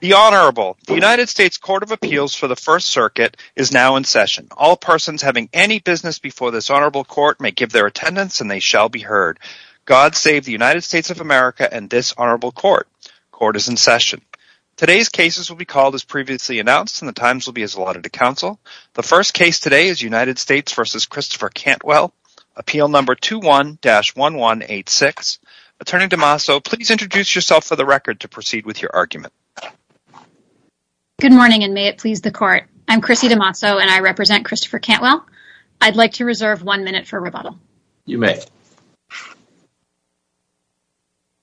The United States Court of Appeals for the First Circuit is now in session. All persons having any business before this honorable court may give their attendance and they shall be heard. God save the United States of America and this honorable court. Court is in session. Today's cases will be called as previously announced and the times will be as allotted to counsel. The first case today is United States v. Christopher Cantwell, appeal number 21-1186. Attorney DeMaso, please introduce yourself for the record to proceed with your argument. Good morning and may it please the court. I'm Chrissy DeMaso and I represent Christopher Cantwell. I'd like to reserve one minute for rebuttal. You may.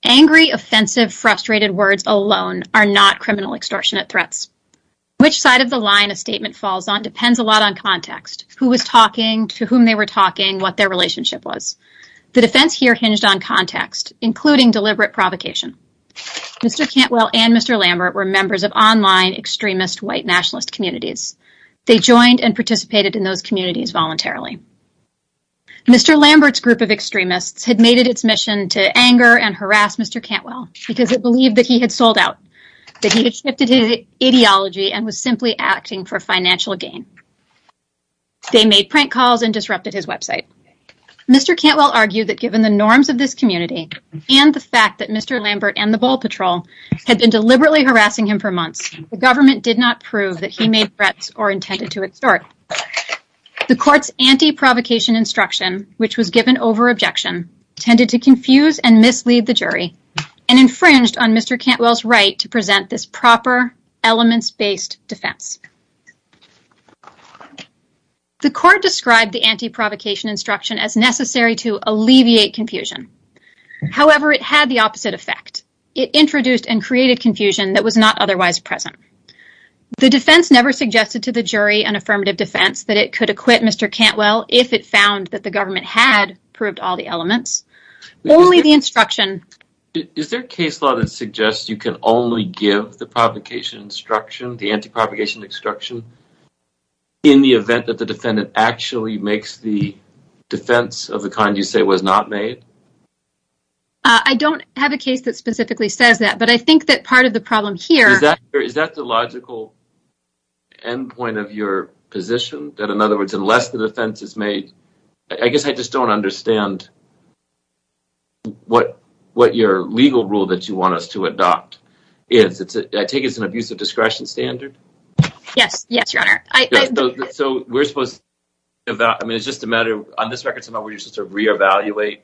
Angry, offensive, frustrated words alone are not criminal extortionate threats. Which side of the line a statement falls on depends a lot on context. Who was talking, to whom they were talking, what their relationship was. The defense here hinged on context, including deliberate provocation. Mr. Cantwell and Mr. Lambert were members of online extremist white nationalist communities. They joined and participated in those communities voluntarily. Mr. Lambert's group of extremists had made it its mission to anger and harass Mr. Cantwell because it believed that he had sold out, that he had shifted his ideology and was simply acting for financial gain. They made prank calls and disrupted his website. Mr. Cantwell argued that given the norms of this community and the fact that Mr. Lambert and the ball patrol had been deliberately harassing him for months, the government did not prove that he made threats or intended to extort. The court's anti-provocation instruction, which was given over objection, tended to confuse and mislead the jury and infringed on Mr. Cantwell's right to present this proper elements-based defense. The court described the anti-provocation instruction as necessary to alleviate confusion. However, it had the opposite effect. It introduced and created confusion that was not otherwise present. The defense never suggested to the jury and affirmative defense that it could acquit Mr. Cantwell if it found that the government had proved all the elements, only the instruction- in the event that the defendant actually makes the defense of the kind you say was not made? I don't have a case that specifically says that, but I think that part of the problem here- Is that the logical end point of your position? That in other words, unless the defense is made- I guess I just don't understand what your legal rule that you want us to adopt is. I take it it's an abusive discretion standard? Yes, your honor. So we're supposed to- I mean, it's just a matter- On this record, you're supposed to reevaluate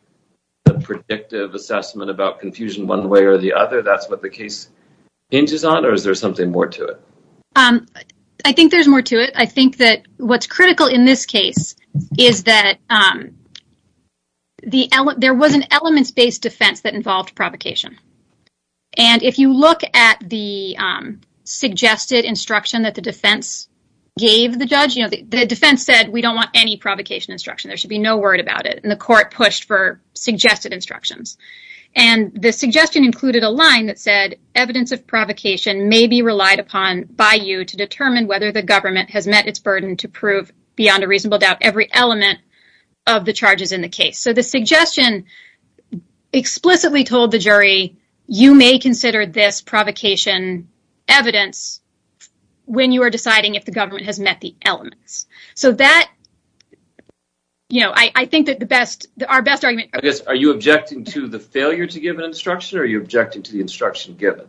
the predictive assessment about confusion one way or the other. That's what the case hinges on? Or is there something more to it? I think there's more to it. I think that what's critical in this case is that there was an elements-based defense that involved provocation. And if you look at the suggested instruction that the defense gave the judge- The defense said, we don't want any provocation instruction. There should be no word about it. And the court pushed for suggested instructions. And the suggestion included a line that said, evidence of provocation may be relied upon by you to determine whether the government has met its burden- to prove beyond a reasonable doubt every element of the charges in the case. So the suggestion explicitly told the jury, you may consider this provocation evidence when you are deciding if the government has met the elements. So that- You know, I think that the best- Our best argument- Are you objecting to the failure to give an instruction? Or are you objecting to the instruction given?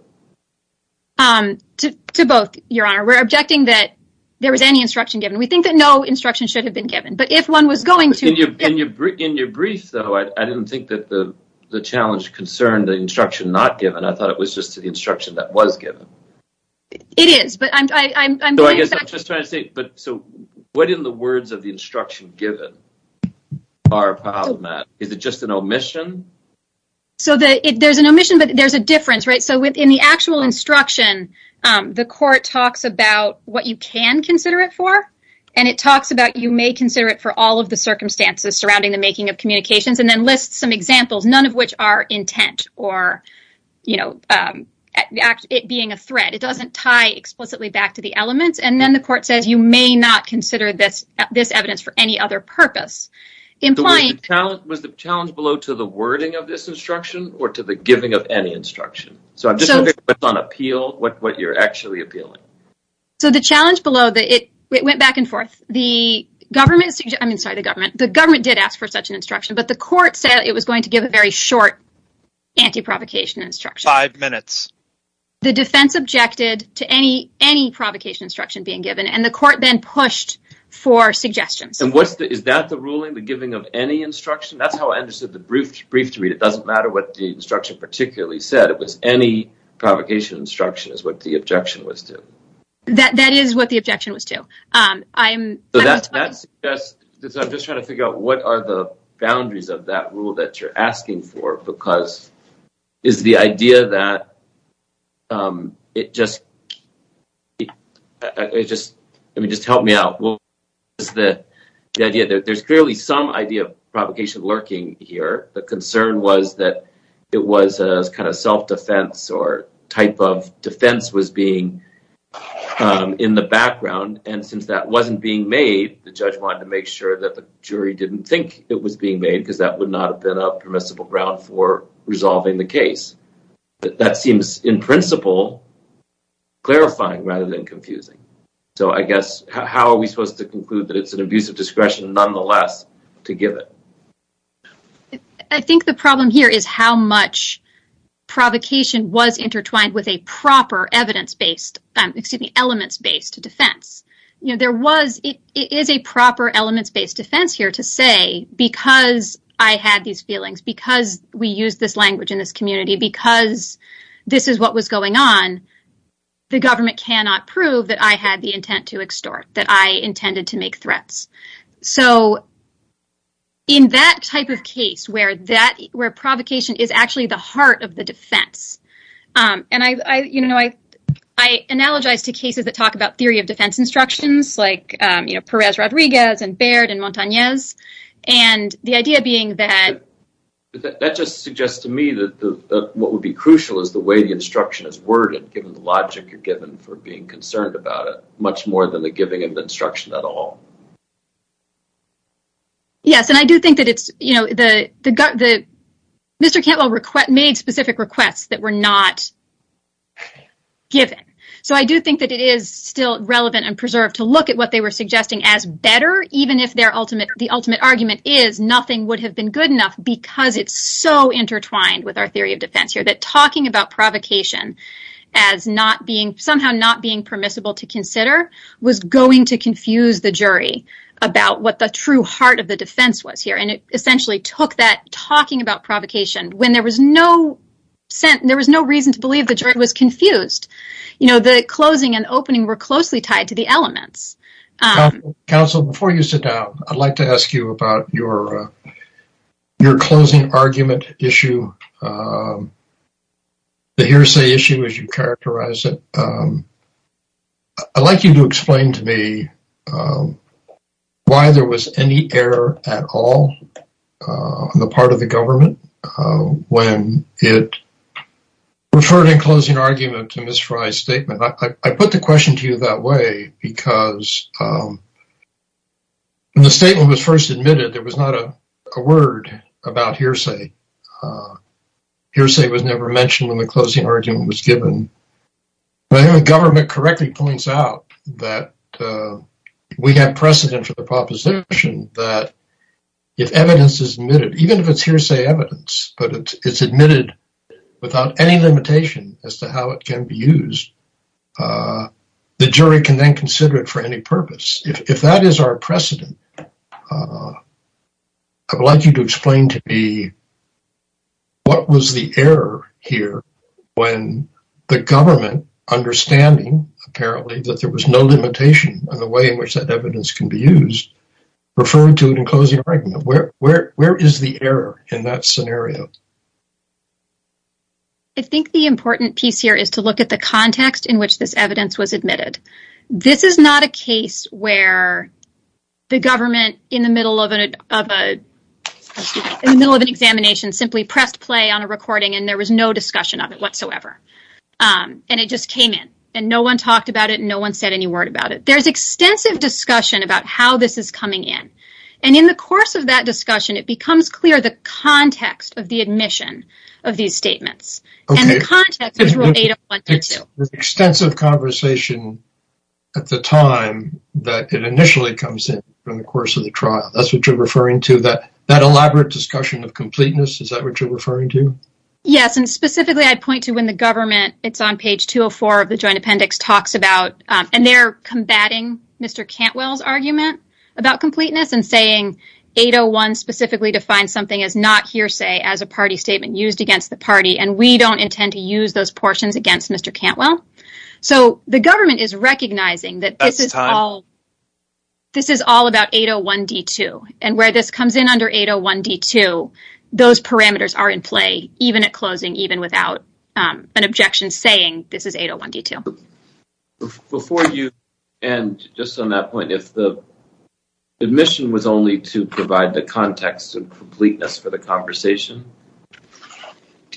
To both, your honor. We're objecting that there was any instruction given. We think that no instruction should have been given. But if one was going to- In your brief, though, I didn't think that the challenge concerned the instruction not given. I thought it was just the instruction that was given. It is, but I'm- So I guess I'm just trying to say- So what in the words of the instruction given are problematic? Is it just an omission? So there's an omission, but there's a difference, right? So in the actual instruction, the court talks about what you can consider it for. And it talks about you may consider it for all of the circumstances surrounding the making of communications. And then lists some examples, none of which are intent or, you know, it being a threat. It doesn't tie explicitly back to the elements. And then the court says you may not consider this evidence for any other purpose. Was the challenge below to the wording of this instruction or to the giving of any instruction? So I'm just wondering what's on appeal, what you're actually appealing. So the challenge below, it went back and forth. The government- I mean, sorry, the government. The government did ask for such an instruction. But the court said it was going to give a very short anti-provocation instruction. Five minutes. The defense objected to any provocation instruction being given. And the court then pushed for suggestions. And is that the ruling, the giving of any instruction? That's how I understood the brief to read. It doesn't matter what the instruction particularly said. It was any provocation instruction is what the objection was to. That is what the objection was to. I'm talking- I'm just trying to figure out what are the boundaries of that rule that you're asking for because is the idea that it just- I mean, just help me out. What was the idea? There's clearly some idea of provocation lurking here. The concern was that it was kind of self-defense or type of defense was being in the background. And since that wasn't being made, the judge wanted to make sure that the jury didn't think it was being made because that would not have been a permissible ground for resolving the case. That seems, in principle, clarifying rather than confusing. So I guess how are we supposed to conclude that it's an abuse of discretion nonetheless to give it? I think the problem here is how much provocation was intertwined with a proper evidence-based- excuse me, elements-based defense. You know, there was- it is a proper elements-based defense here to say because I had these feelings, because we used this language in this community, because this is what was going on, the government cannot prove that I had the intent to extort, that I intended to make threats. So in that type of case where that- where provocation is actually the heart of the defense- and I, you know, I analogize to cases that talk about theory of defense instructions, like, you know, Perez Rodriguez and Baird and Montanez, and the idea being that- for being concerned about it, much more than the giving of the instruction at all. Yes, and I do think that it's, you know, the- Mr. Cantwell made specific requests that were not given. So I do think that it is still relevant and preserved to look at what they were suggesting as better, even if their ultimate- the ultimate argument is nothing would have been good enough because it's so intertwined with our theory of defense here, that talking about provocation as not being- somehow not being permissible to consider was going to confuse the jury about what the true heart of the defense was here. And it essentially took that talking about provocation when there was no- there was no reason to believe the jury was confused. You know, the closing and opening were closely tied to the elements. Counsel, before you sit down, I'd like to ask you about your closing argument issue, the hearsay issue as you characterize it. I'd like you to explain to me why there was any error at all on the part of the government when it referred in closing argument to Ms. Frey's statement. I put the question to you that way because when the statement was first admitted, there was not a word about hearsay. Hearsay was never mentioned when the closing argument was given. But I think the government correctly points out that we have precedent for the proposition that if evidence is admitted, even if it's hearsay evidence, but it's admitted without any limitation as to how it can be used, the jury can then consider it for any purpose. If that is our precedent, I'd like you to explain to me what was the error here when the government, understanding apparently that there was no limitation on the way in which that evidence can be used, referred to it in closing argument. Where is the error in that scenario? I think the important piece here is to look at the context in which this evidence was admitted. This is not a case where the government, in the middle of an examination, simply pressed play on a recording and there was no discussion of it whatsoever, and it just came in, and no one talked about it and no one said any word about it. There's extensive discussion about how this is coming in, and in the course of that discussion it becomes clear the context of the admission of these statements, and the context is related. Extensive conversation at the time that it initially comes in from the course of the trial. That's what you're referring to, that elaborate discussion of completeness? Is that what you're referring to? Yes, and specifically I'd point to when the government, it's on page 204 of the Joint Appendix, talks about, and they're combating Mr. Cantwell's argument about completeness and saying 801 specifically defines something as not hearsay, as a party statement used against the party, and we don't intend to use those portions against Mr. Cantwell. So the government is recognizing that this is all about 801D2, and where this comes in under 801D2, those parameters are in play, even at closing, even without an objection saying this is 801D2. Before you end, just on that point, if the admission was only to provide the context of completeness for the conversation,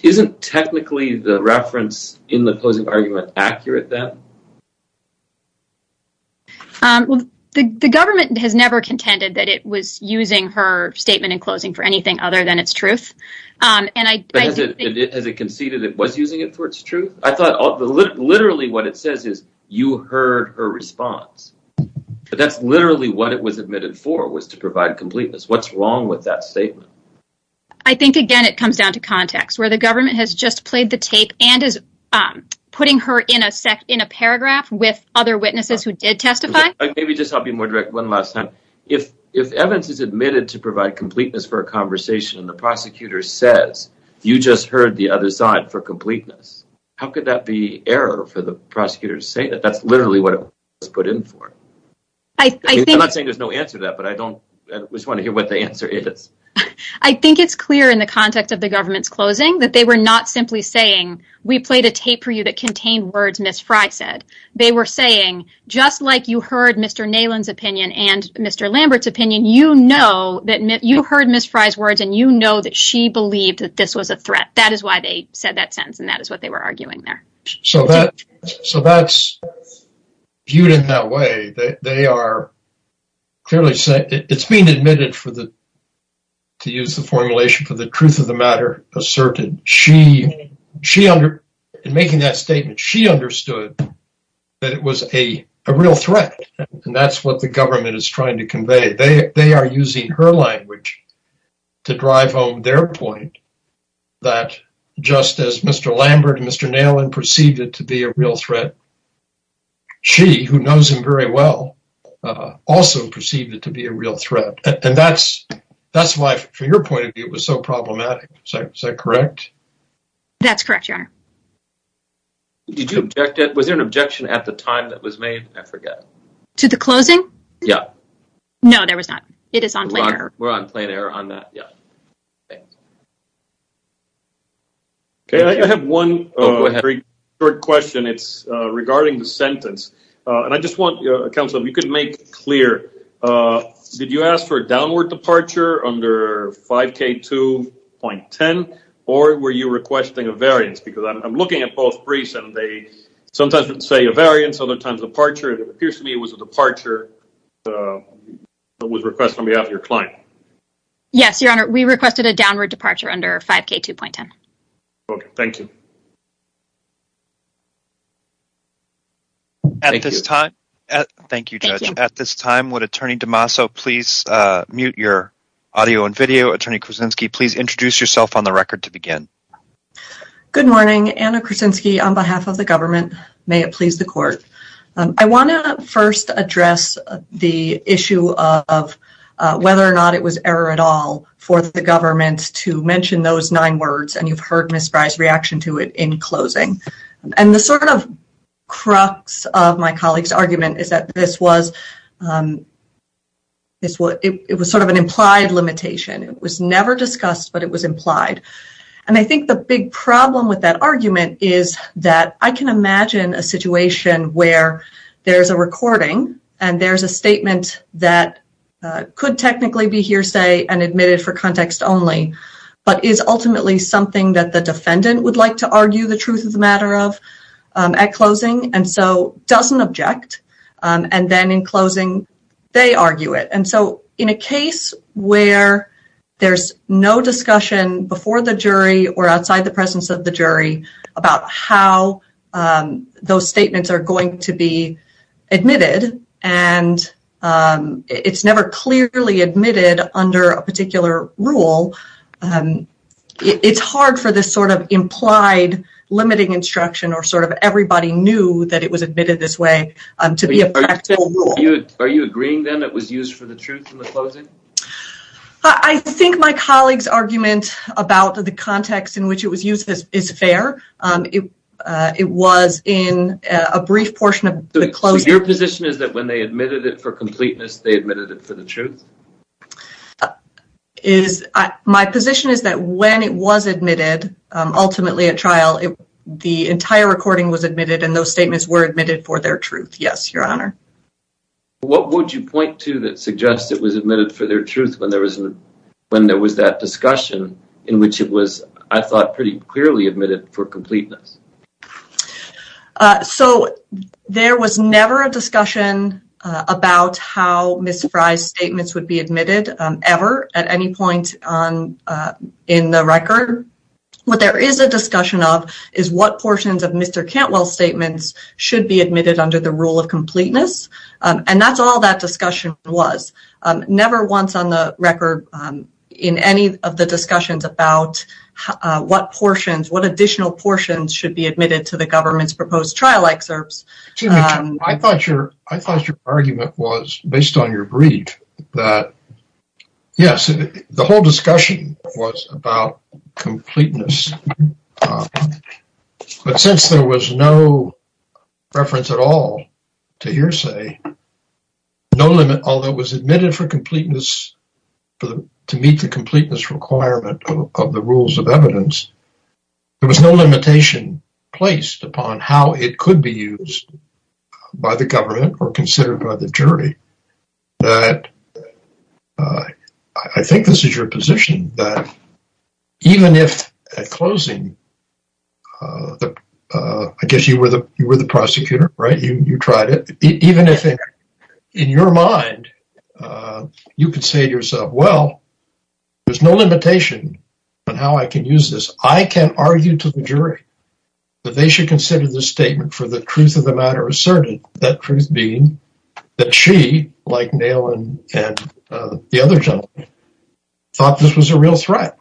isn't technically the reference in the closing argument accurate then? The government has never contended that it was using her statement in closing for anything other than its truth, but has it conceded it was using it for its truth? I thought literally what it says is you heard her response, but that's literally what it was admitted for, was to provide completeness. What's wrong with that statement? I think, again, it comes down to context, where the government has just played the tape and is putting her in a paragraph with other witnesses who did testify. Maybe just I'll be more direct one last time. If evidence is admitted to provide completeness for a conversation and the prosecutor says you just heard the other side for completeness, how could that be error for the prosecutor to say that? That's literally what it was put in for. I'm not saying there's no answer to that, but I just want to hear what the answer is. I think it's clear in the context of the government's closing that they were not simply saying we played a tape for you that contained words Ms. Frey said. They were saying just like you heard Mr. Nalen's opinion and Mr. Lambert's opinion, you heard Ms. Frey's words and you know that she believed that this was a threat. That is why they said that sentence, and that is what they were arguing there. So that's viewed in that way. It's being admitted, to use the formulation, for the truth of the matter asserted. In making that statement, she understood that it was a real threat. That's what the government is trying to convey. They are using her language to drive home their point that just as Mr. Lambert and Mr. Nalen perceived it to be a real threat, she, who knows him very well, also perceived it to be a real threat. That's why, from your point of view, it was so problematic. Is that correct? That's correct, Your Honor. Was there an objection at the time that was made? I forget. To the closing? Yeah. No, there was not. It is on plain error. We're on plain error on that, yeah. Okay, I have one very short question. It's regarding the sentence. And I just want, Counselor, if you could make it clear. Did you ask for a downward departure under 5K2.10, or were you requesting a variance? Because I'm looking at both briefs and they sometimes would say a variance, other times a departure. It appears to me it was a departure that was requested on behalf of your client. Yes, Your Honor. We requested a downward departure under 5K2.10. Okay, thank you. Thank you. Thank you, Judge. At this time, would Attorney DeMaso please mute your audio and video? Attorney Krasinski, please introduce yourself on the record to begin. Good morning. Anna Krasinski on behalf of the government. May it please the Court. I want to first address the issue of whether or not it was error at all for the government to mention those nine words, and you've heard Ms. Fry's reaction to it in closing. And the sort of crux of my colleague's argument is that this was sort of an implied limitation. It was never discussed, but it was implied. And I think the big problem with that argument is that I can imagine a situation where there's a recording and there's a statement that could technically be hearsay and admitted for context only, but is ultimately something that the defendant would like to argue the truth of the matter of at closing and so doesn't object, and then in closing they argue it. And so in a case where there's no discussion before the jury or outside the presence of the jury about how those statements are going to be admitted and it's never clearly admitted under a particular rule, it's hard for this sort of implied limiting instruction or sort of everybody knew that it was admitted this way to be a practical rule. Are you agreeing then it was used for the truth in the closing? I think my colleague's argument about the context in which it was used is fair. It was in a brief portion of the closing. So your position is that when they admitted it for completeness, they admitted it for the truth? My position is that when it was admitted, ultimately at trial, the entire recording was admitted and those statements were admitted for their truth, yes, your honor. What would you point to that suggests it was admitted for their truth when there was that discussion in which it was, I thought, pretty clearly admitted for completeness? So there was never a discussion about how Ms. Fry's statements would be admitted, ever, at any point in the record. What there is a discussion of is what portions of Mr. Cantwell's statements should be admitted under the rule of completeness and that's all that discussion was. Never once on the record in any of the discussions about what portions, what additional portions should be admitted to the government's proposed trial excerpts. I thought your argument was, based on your brief, that yes, the whole discussion was about completeness. But since there was no reference at all to hearsay, no limit, although it was admitted for completeness to meet the completeness requirement of the rules of evidence, there was no limitation placed upon how it could be used by the government or considered by the jury. I think this is your position, that even if at closing, I guess you were the prosecutor, right? You tried it. Even if in your mind, you could say to yourself, well, there's no limitation on how I can use this. I can argue to the jury that they should consider this statement for the truth of the matter asserted. That truth being that she, like Nail and the other gentlemen, thought this was a real threat.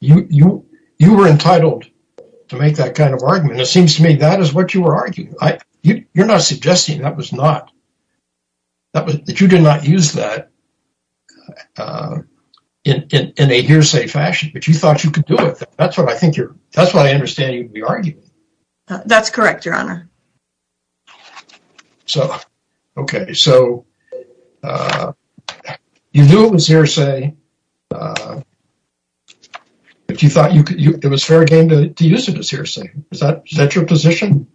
You were entitled to make that kind of argument. It seems to me that is what you were arguing. You're not suggesting that was not – that you did not use that in a hearsay fashion, but you thought you could do it. That's what I think you're – that's what I understand you would be arguing. That's correct, Your Honor. So, okay. So, you knew it was hearsay, but you thought it was fair game to use it as hearsay. Is that your position?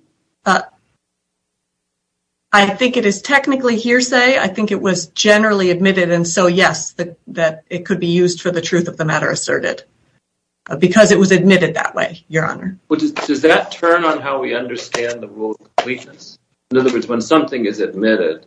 I think it is technically hearsay. I think it was generally admitted. And so, yes, that it could be used for the truth of the matter asserted because it was admitted that way, Your Honor. Does that turn on how we understand the rule of completeness? In other words, when something is admitted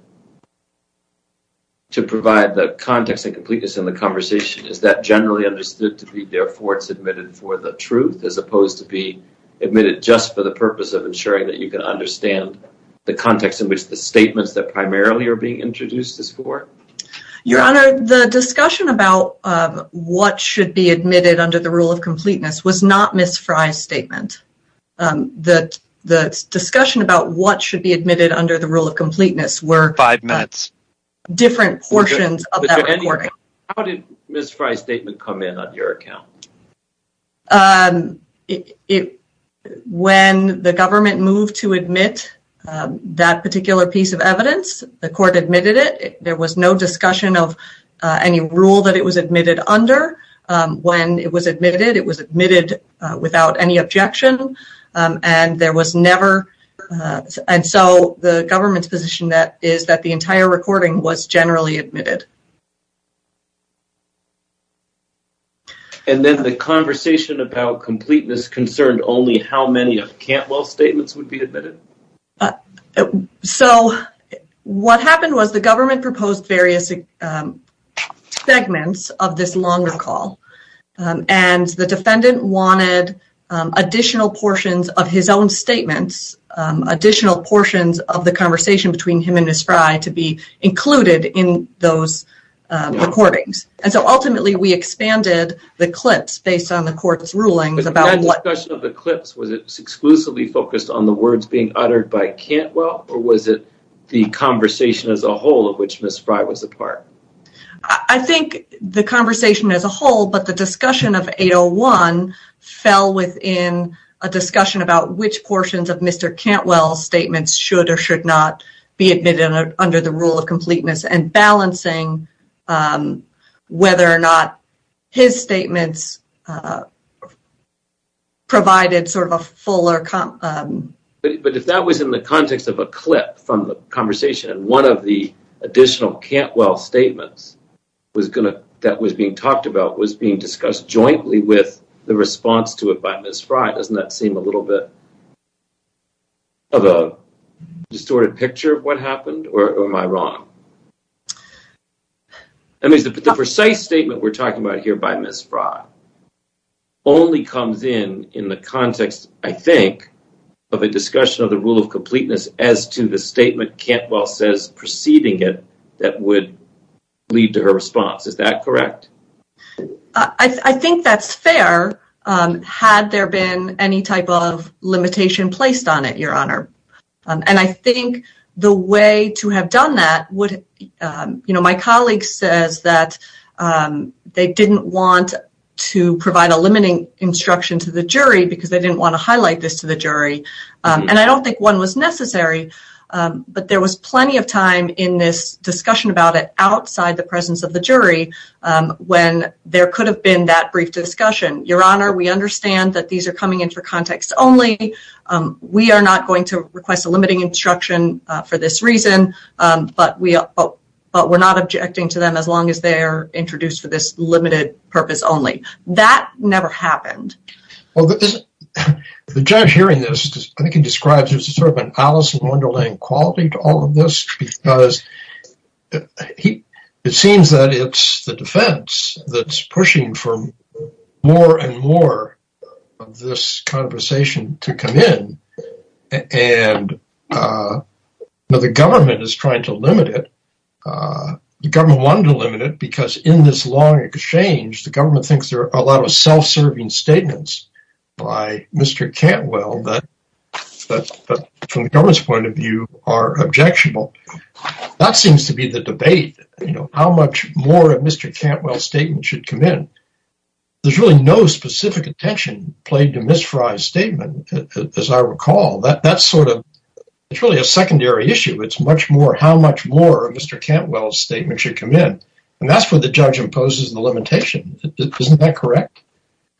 to provide the context and completeness in the conversation, is that generally understood to be therefore it's admitted for the truth as opposed to be admitted just for the purpose of ensuring that you can understand the context in which the statements that primarily are being introduced is for? Your Honor, the discussion about what should be admitted under the rule of completeness was not Ms. Fry's statement. The discussion about what should be admitted under the rule of completeness were different portions of that recording. How did Ms. Fry's statement come in on your account? When the government moved to admit that particular piece of evidence, the court admitted it. There was no discussion of any rule that it was admitted under. When it was admitted, it was admitted without any objection. And so the government's position is that the entire recording was generally admitted. And then the conversation about completeness concerned only how many of Cantwell's statements would be admitted? So, what happened was the government proposed various segments of this longer call. And the defendant wanted additional portions of his own statements, additional portions of the conversation between him and Ms. Fry to be included in those recordings. And so ultimately we expanded the clips based on the court's rulings. Was that discussion of the clips, was it exclusively focused on the words being uttered by Cantwell? Or was it the conversation as a whole of which Ms. Fry was a part? I think the conversation as a whole, but the discussion of 801, fell within a discussion about which portions of Mr. Cantwell's statements should or should not be admitted under the rule of completeness. And balancing whether or not his statements provided sort of a fuller... But if that was in the context of a clip from the conversation and one of the additional Cantwell statements that was being talked about was being discussed jointly with the response to it by Ms. Fry, doesn't that seem a little bit of a distorted picture of what happened, or am I wrong? The precise statement we're talking about here by Ms. Fry only comes in in the context, I think, of a discussion of the rule of completeness as to the statement Cantwell says preceding it that would lead to her response. Is that correct? I think that's fair, had there been any type of limitation placed on it, Your Honor. And I think the way to have done that would... My colleague says that they didn't want to provide a limiting instruction to the jury because they didn't want to highlight this to the jury. And I don't think one was necessary, but there was plenty of time in this discussion about it outside the presence of the jury when there could have been that brief discussion. Your Honor, we understand that these are coming in for context only. We are not going to request a limiting instruction for this reason, but we're not objecting to them as long as they're introduced for this limited purpose only. That never happened. Well, the judge hearing this, I think he describes it as sort of an Alice in Wonderland quality to all of this because it seems that it's the defense that's pushing for more and more of this conversation to come in. And the government is trying to limit it. The government wanted to limit it because in this long exchange, the government thinks there are a lot of self-serving statements by Mr. Cantwell that from the government's point of view are objectionable. That seems to be the debate, you know, how much more of Mr. Cantwell's statement should come in. There's really no specific attention played to Ms. Fry's statement, as I recall. That's sort of, it's really a secondary issue. It's much more how much more of Mr. Cantwell's statement should come in. And that's where the judge imposes the limitation. Isn't that correct?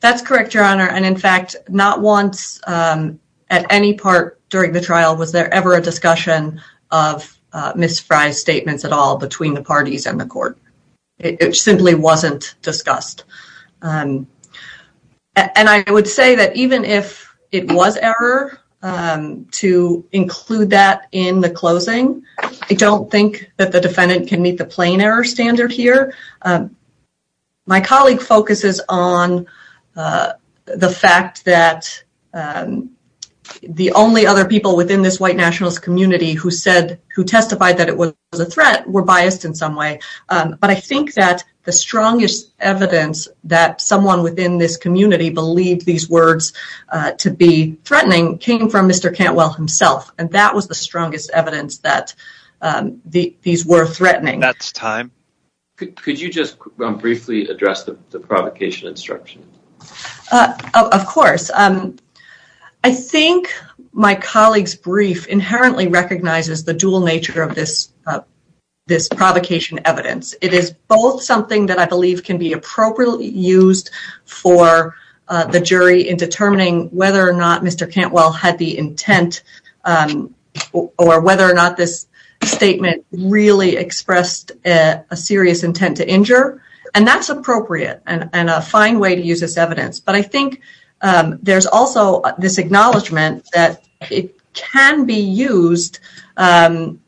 That's correct, Your Honor. And, in fact, not once at any part during the trial was there ever a discussion of Ms. Fry's statements at all between the parties and the court. It simply wasn't discussed. And I would say that even if it was error to include that in the closing, I don't think that the defendant can meet the plain error standard here. My colleague focuses on the fact that the only other people within this white nationalist community who testified that it was a threat were biased in some way. But I think that the strongest evidence that someone within this community believed these words to be threatening came from Mr. Cantwell himself. And that was the strongest evidence that these were threatening. That's time. Could you just briefly address the provocation instruction? Of course. I think my colleague's brief inherently recognizes the dual nature of this provocation evidence. It is both something that I believe can be appropriately used for the jury in determining whether or not Mr. Cantwell had the intent or whether or not this statement really expressed a serious intent to injure. And that's appropriate and a fine way to use this evidence. But I think there's also this acknowledgment that it can be used in an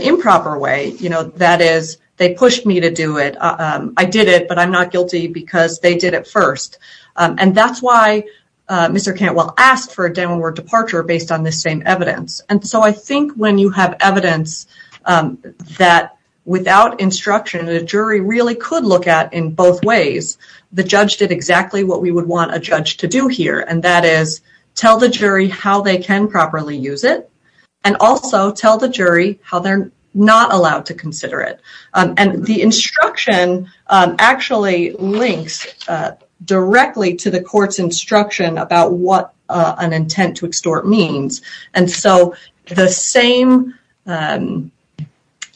improper way. That is, they pushed me to do it. I did it, but I'm not guilty because they did it first. And that's why Mr. Cantwell asked for a downward departure based on this same evidence. And so I think when you have evidence that without instruction, a jury really could look at in both ways, the judge did exactly what we would want a judge to do here. And that is tell the jury how they can properly use it. And also tell the jury how they're not allowed to consider it. And the instruction actually links directly to the court's instruction about what an intent to extort means. And so the same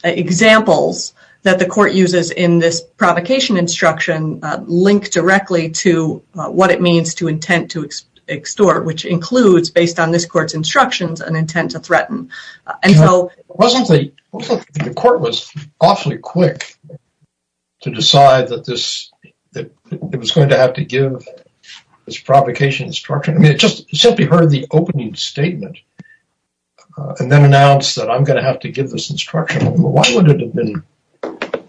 examples that the court uses in this provocation instruction link directly to what it means to intent to extort, which includes, based on this court's instructions, an intent to threaten. The court was awfully quick to decide that it was going to have to give this provocation instruction. I mean, it just simply heard the opening statement and then announced that I'm going to have to give this instruction. Why would it have been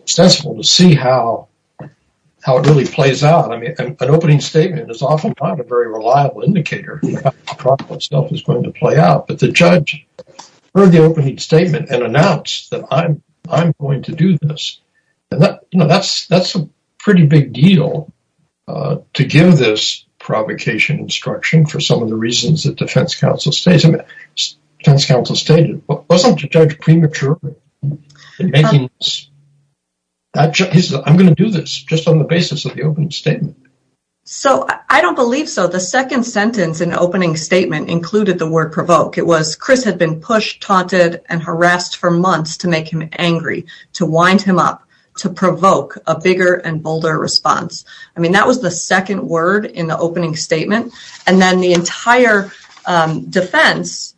sensible to see how it really plays out? I mean, an opening statement is oftentimes a very reliable indicator of how the provocative stuff is going to play out. But the judge heard the opening statement and announced that I'm going to do this. And that's a pretty big deal to give this provocation instruction for some of the reasons that defense counsel stated. Wasn't the judge premature in making this? I'm going to do this just on the basis of the opening statement. So I don't believe so. The second sentence in the opening statement included the word provoke. It was, Chris had been pushed, taunted, and harassed for months to make him angry, to wind him up, to provoke a bigger and bolder response. I mean, that was the second word in the opening statement. And then the entire defense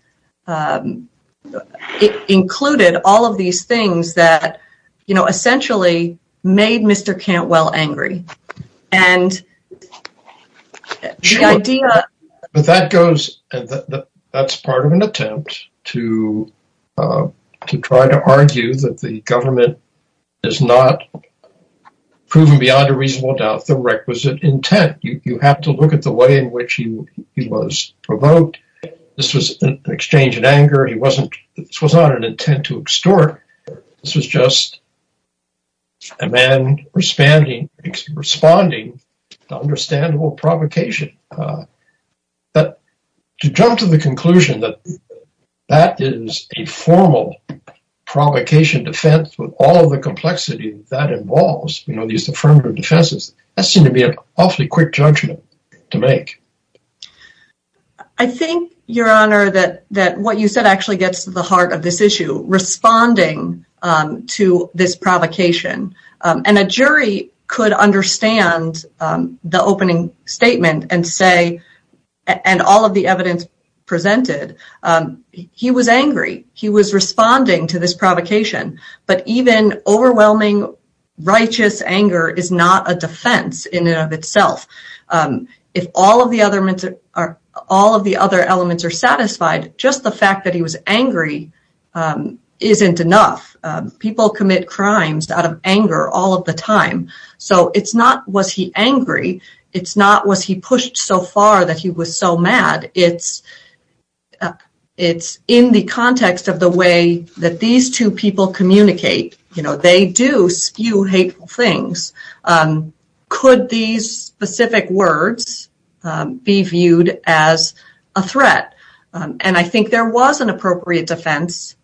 included all of these things that, you know, essentially made Mr. Cantwell angry. But that's part of an attempt to try to argue that the government has not proven beyond a reasonable doubt the requisite intent. You have to look at the way in which he was provoked. This was an exchange in anger. This was not an intent to extort. This was just a man responding to understandable provocation. But to jump to the conclusion that that is a formal provocation defense with all of the complexity that that involves, you know, these affirmative defenses, that seemed to be an awfully quick judgment to make. I think, Your Honor, that what you said actually gets to the heart of this issue, responding to this provocation. And a jury could understand the opening statement and say, and all of the evidence presented, he was angry. He was responding to this provocation. But even overwhelming righteous anger is not a defense in and of itself. If all of the other elements are satisfied, just the fact that he was angry isn't enough. People commit crimes out of anger all of the time. So it's not, was he angry? It's not, was he pushed so far that he was so mad? It's in the context of the way that these two people communicate. You know, they do spew hateful things. Could these specific words be viewed as a threat? And I think there was an appropriate defense.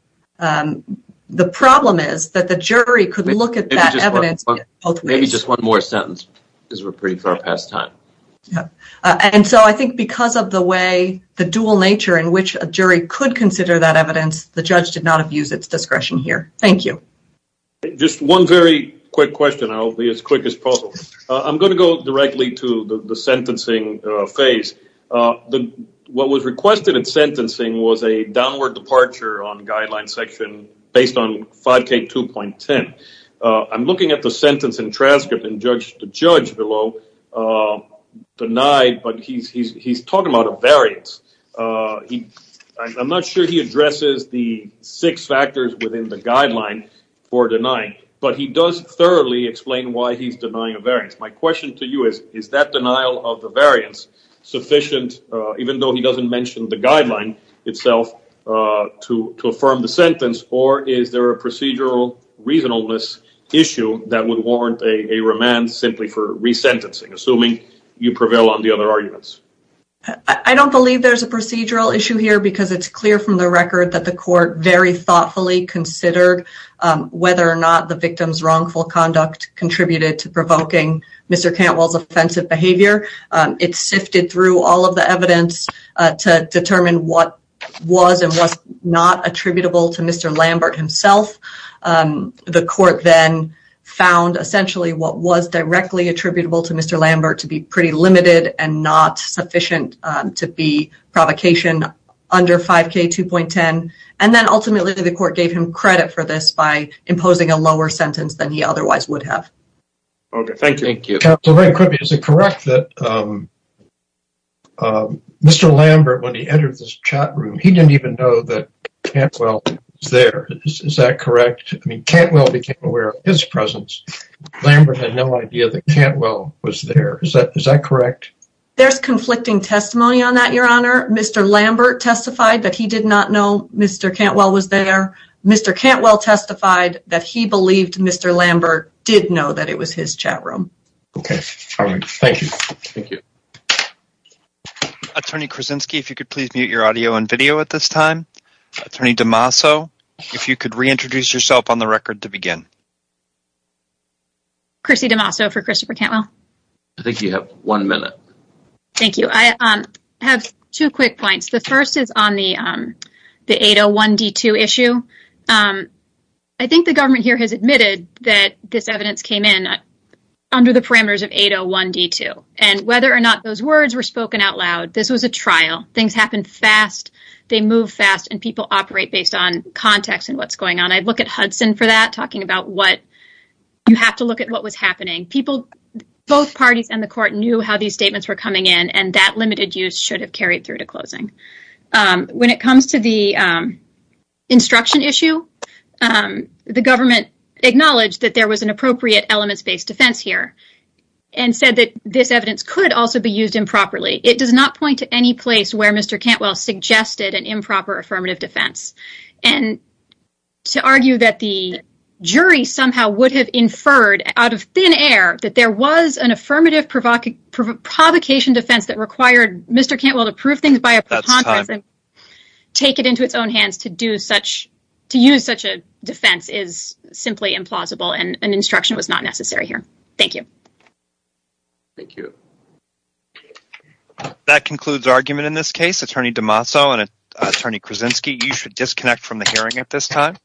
The problem is that the jury could look at that evidence both ways. Maybe just one more sentence, because we're pretty far past time. And so I think because of the way, the dual nature in which a jury could consider that evidence, the judge did not have used its discretion here. Thank you. Just one very quick question. I'll be as quick as possible. I'm going to go directly to the sentencing phase. What was requested in sentencing was a downward departure on guideline section based on 5K2.10. I'm looking at the sentence in transcript, and the judge below denied, but he's talking about a variance. I'm not sure he addresses the six factors within the guideline for denying, but he does thoroughly explain why he's denying a variance. My question to you is, is that denial of the variance sufficient, even though he doesn't mention the guideline itself, to affirm the sentence? Or is there a procedural reasonableness issue that would warrant a remand simply for resentencing, assuming you prevail on the other arguments? I don't believe there's a procedural issue here, because it's clear from the record that the court very thoughtfully considered whether or not the victim's wrongful conduct contributed to provoking Mr. Cantwell's offensive behavior. It sifted through all of the evidence to determine what was and was not attributable to Mr. Lambert himself. The court then found, essentially, what was directly attributable to Mr. Lambert to be pretty limited and not sufficient to be provocation under 5K2.10. And then, ultimately, the court gave him credit for this by imposing a lower sentence than he otherwise would have. Okay, thank you. Counsel, very quickly, is it correct that Mr. Lambert, when he entered this chat room, he didn't even know that Cantwell was there? Is that correct? I mean, Cantwell became aware of his presence. Lambert had no idea that Cantwell was there. Is that correct? There's conflicting testimony on that, Your Honor. Mr. Lambert testified that he did not know Mr. Cantwell was there. Mr. Cantwell testified that he believed Mr. Lambert did know that it was his chat room. Okay, thank you. Attorney Krasinski, if you could please mute your audio and video at this time. Attorney DeMasso, if you could reintroduce yourself on the record to begin. Chrissy DeMasso for Christopher Cantwell. I think you have one minute. Thank you. I have two quick points. The first is on the 801D2 issue. I think the government here has admitted that this evidence came in under the parameters of 801D2. And whether or not those words were spoken out loud, this was a trial. Things happen fast, they move fast, and people operate based on context and what's going on. I'd look at Hudson for that, talking about what you have to look at what was happening. Both parties and the court knew how these statements were coming in, and that limited use should have carried through to closing. When it comes to the instruction issue, the government acknowledged that there was an appropriate elements-based defense here and said that this evidence could also be used improperly. It does not point to any place where Mr. Cantwell suggested an improper affirmative defense. And to argue that the jury somehow would have inferred out of thin air that there was an affirmative provocation defense that required Mr. Cantwell to prove things by a pretense and take it into its own hands to use such a defense is simply implausible. And an instruction was not necessary here. Thank you. Thank you. That concludes argument in this case. Attorney DeMazzo and Attorney Krasinski, you should disconnect from the hearing at this time.